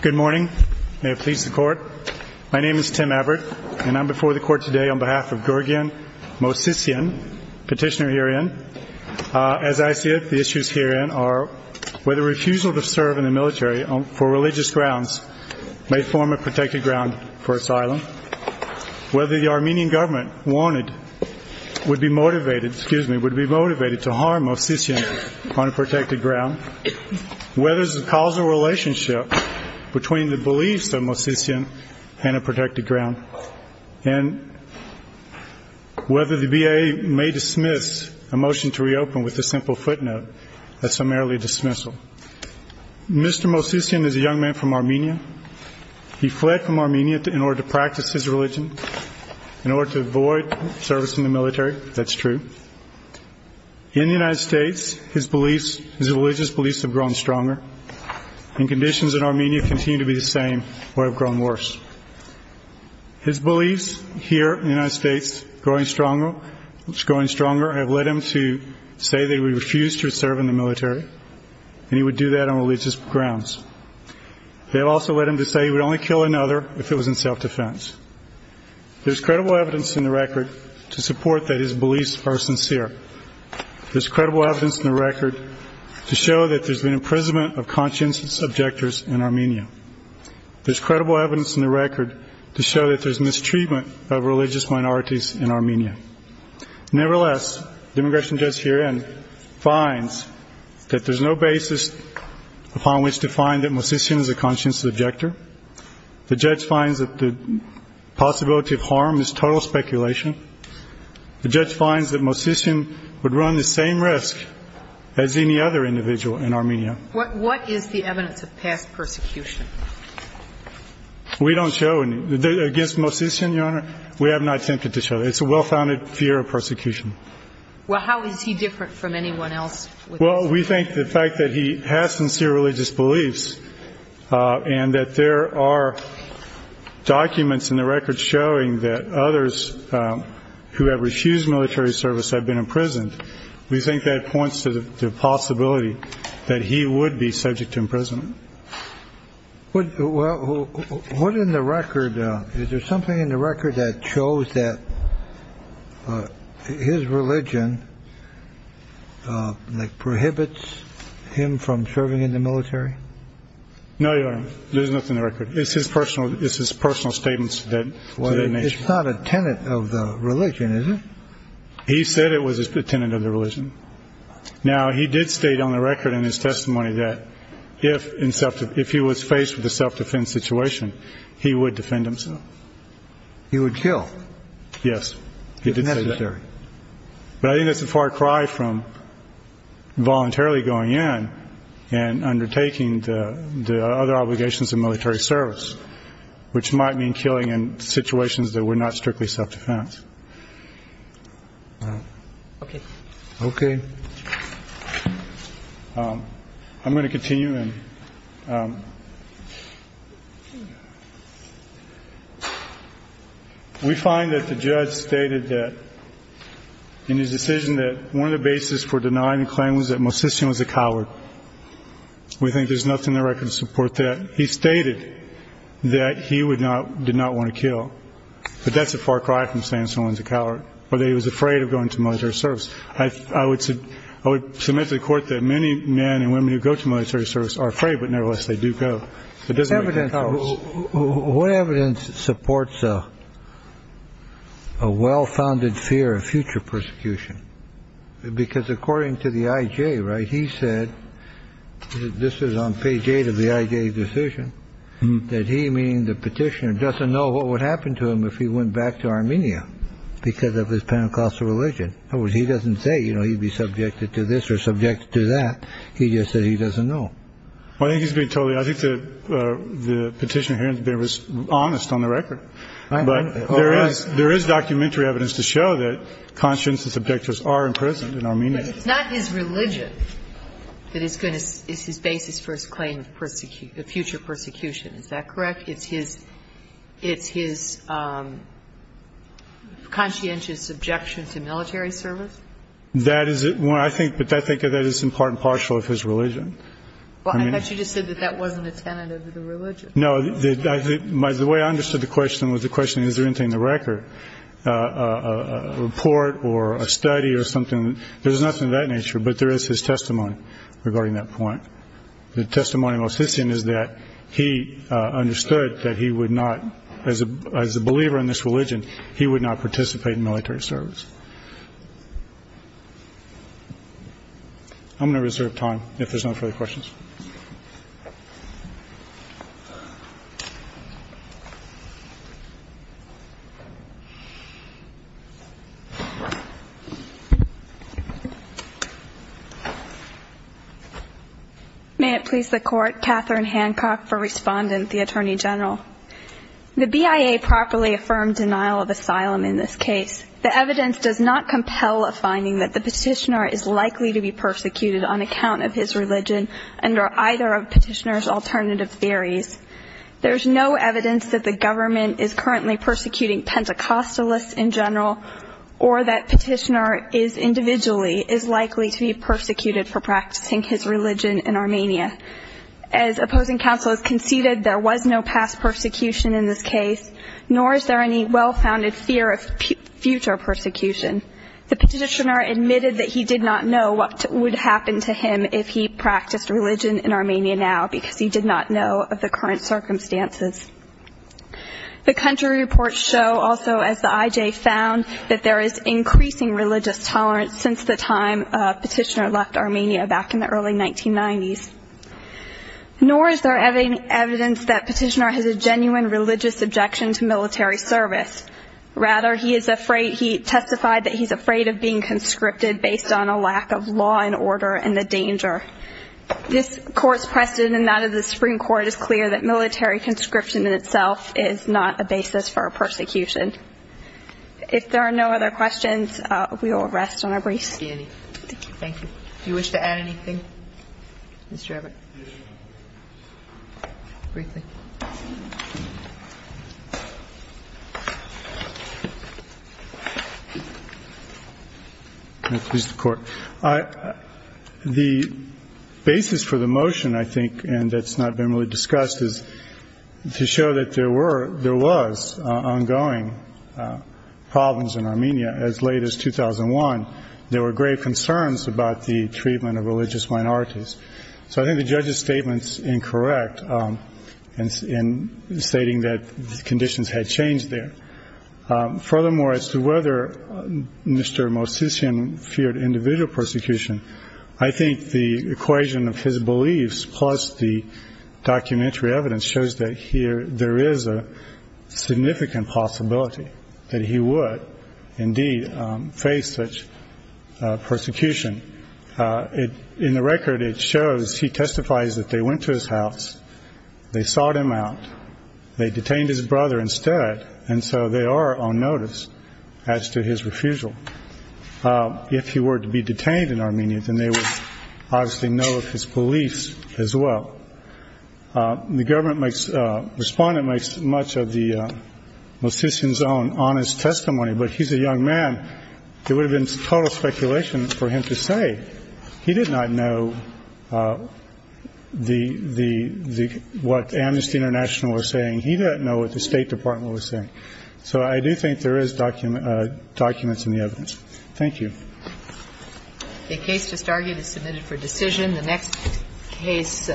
Good morning. May it please the Court. My name is Tim Abbott, and I am before the Court today on behalf of Georgian MOVSISIAN, petitioner herein. As I see it, the issues herein are whether refusal to serve in the military for religious grounds may form a protected ground for asylum, whether the Armenian government would be motivated to harm MOVSISIAN on a whether there is a causal relationship between the beliefs of MOVSISIAN and a protected ground, and whether the BIA may dismiss a motion to reopen with a simple footnote, a summarily dismissal. Mr. MOVSISIAN is a young man from Armenia. He fled from Armenia in order to practice his religion, in order to avoid service in the military. That's true. In the United States, his religious beliefs have grown stronger, and conditions in Armenia continue to be the same or have grown worse. His beliefs here in the United States, which are growing stronger, have led him to say that he would refuse to serve in the military, and he would do that on religious grounds. They have also led him to say he would only kill another if it was in self-defense. There is credible evidence in the record to support that his beliefs are sincere. There is credible evidence in the record to show that there is an imprisonment of conscientious objectors in Armenia. There is credible evidence in the record to show that there is mistreatment of religious minorities in Armenia. Nevertheless, the immigration judge herein finds that there is no basis upon which to find that MOVSISIAN is a conscientious objector. The judge finds that the run the same risk as any other individual in Armenia. What is the evidence of past persecution? We don't show any. Against MOVSISIAN, Your Honor, we have not attempted to show. It's a well-founded fear of persecution. Well, how is he different from anyone else? Well, we think the fact that he has sincere religious beliefs and that there are documents in the record showing that others who have refused military service have been imprisoned, we think that points to the possibility that he would be subject to imprisonment. What in the record, is there something in the record that shows that his religion prohibits him from serving in the military? No, Your Honor, there's nothing in the record. It's his personal statements to the nation. It's not a tenet of the religion, is it? He said it was a tenet of the religion. Now, he did state on the record in his testimony that if he was faced with a self-defense situation, he would defend himself. He would kill? Yes. If necessary. But I think that's a far cry from voluntarily going in and undertaking the other obligations of military service, which might mean killing in situations that were not strictly self-defense. Okay. Okay. I'm going to continue. We find that the judge stated that in his decision that one of the basis for denying the claim was that Mosesian was a coward. We think there's nothing in the record to support that. He stated that he did not want to kill. But that's a far cry from saying someone's a coward, whether he was afraid of going to military service. I would submit to the court that many men and women who go to military service are afraid, but nevertheless, they do go. What evidence supports a well-founded fear of future persecution? Because according to the IJ, he said, this is on page eight of the IJ decision, that he, meaning the petitioner, doesn't know what would happen to him if he went back to Armenia because of his Pentecostal religion. In other words, he doesn't say he'd be subjected to this or subjected to that. He just said he doesn't know. I think he's being totally, I think the petitioner here has been honest on the record. But there is documentary evidence to show that conscientious objectors are in prison in Armenia. But it's not his religion that is going to, is his basis for his claim of future persecution. Is that correct? It's his conscientious objection to military service? That is it. I think that is in part and partial of his religion. Well, I thought you just said that that wasn't a tenet of the religion. No, the way I understood the question was the record, a report or a study or something. There's nothing of that nature, but there is his testimony regarding that point. The testimony most hissing is that he understood that he would not, as a believer in this religion, he would not participate in military service. I'm going to reserve time if there's no further questions. May it please the court. Catherine Hancock for respondent, the Attorney General. The BIA properly affirmed denial of asylum in this case. The evidence does not compel a finding that the petitioner is likely to be persecuted on account of his religion under either of petitioner's alternative theories. There's no evidence that the government is in general or that petitioner is individually is likely to be persecuted for practicing his religion in Armenia. As opposing counsel has conceded, there was no past persecution in this case, nor is there any well-founded fear of future persecution. The petitioner admitted that he did not know what would happen to him if he practiced religion in Armenia now because he did not know of the current circumstances. The country reports show also as the IJ found that there is increasing religious tolerance since the time petitioner left Armenia back in the early 1990s. Nor is there evidence that petitioner has a genuine religious objection to military service. Rather, he is afraid, he testified that he's afraid of being conscripted based on a lack of military conscription in itself is not a basis for a persecution. If there are no other questions, we will rest on our briefs. Thank you. Do you wish to add anything, Mr. Everett? Briefly. Mr. Court. The basis for the motion, I think, and that's not been really discussed is to show that there were there was ongoing problems in Armenia as late as 2001. There were grave concerns about the treatment of religious minorities. So I think the judge's statements incorrect and in stating that the conditions had changed there. Furthermore, as to whether Mr. Mosesian feared individual persecution, I think the equation of his beliefs plus the documentary evidence shows that here there is a significant possibility that he would indeed face such persecution. In the record, it shows he testifies that they went to his house. They sought him out. They detained his brother instead. And so they are on notice as to his refusal. If he were to be detained in Armenia, then they would obviously know of his beliefs as well. The government makes respondent makes much of the Mosesian's own honest testimony. But he's a young man. It would have been total speculation for him to say he did not know the the what Amnesty International was saying. He didn't know what the State Department was saying. So I do think there is document documents in the evidence. Thank you. The case just argued is submitted for decision. The next case.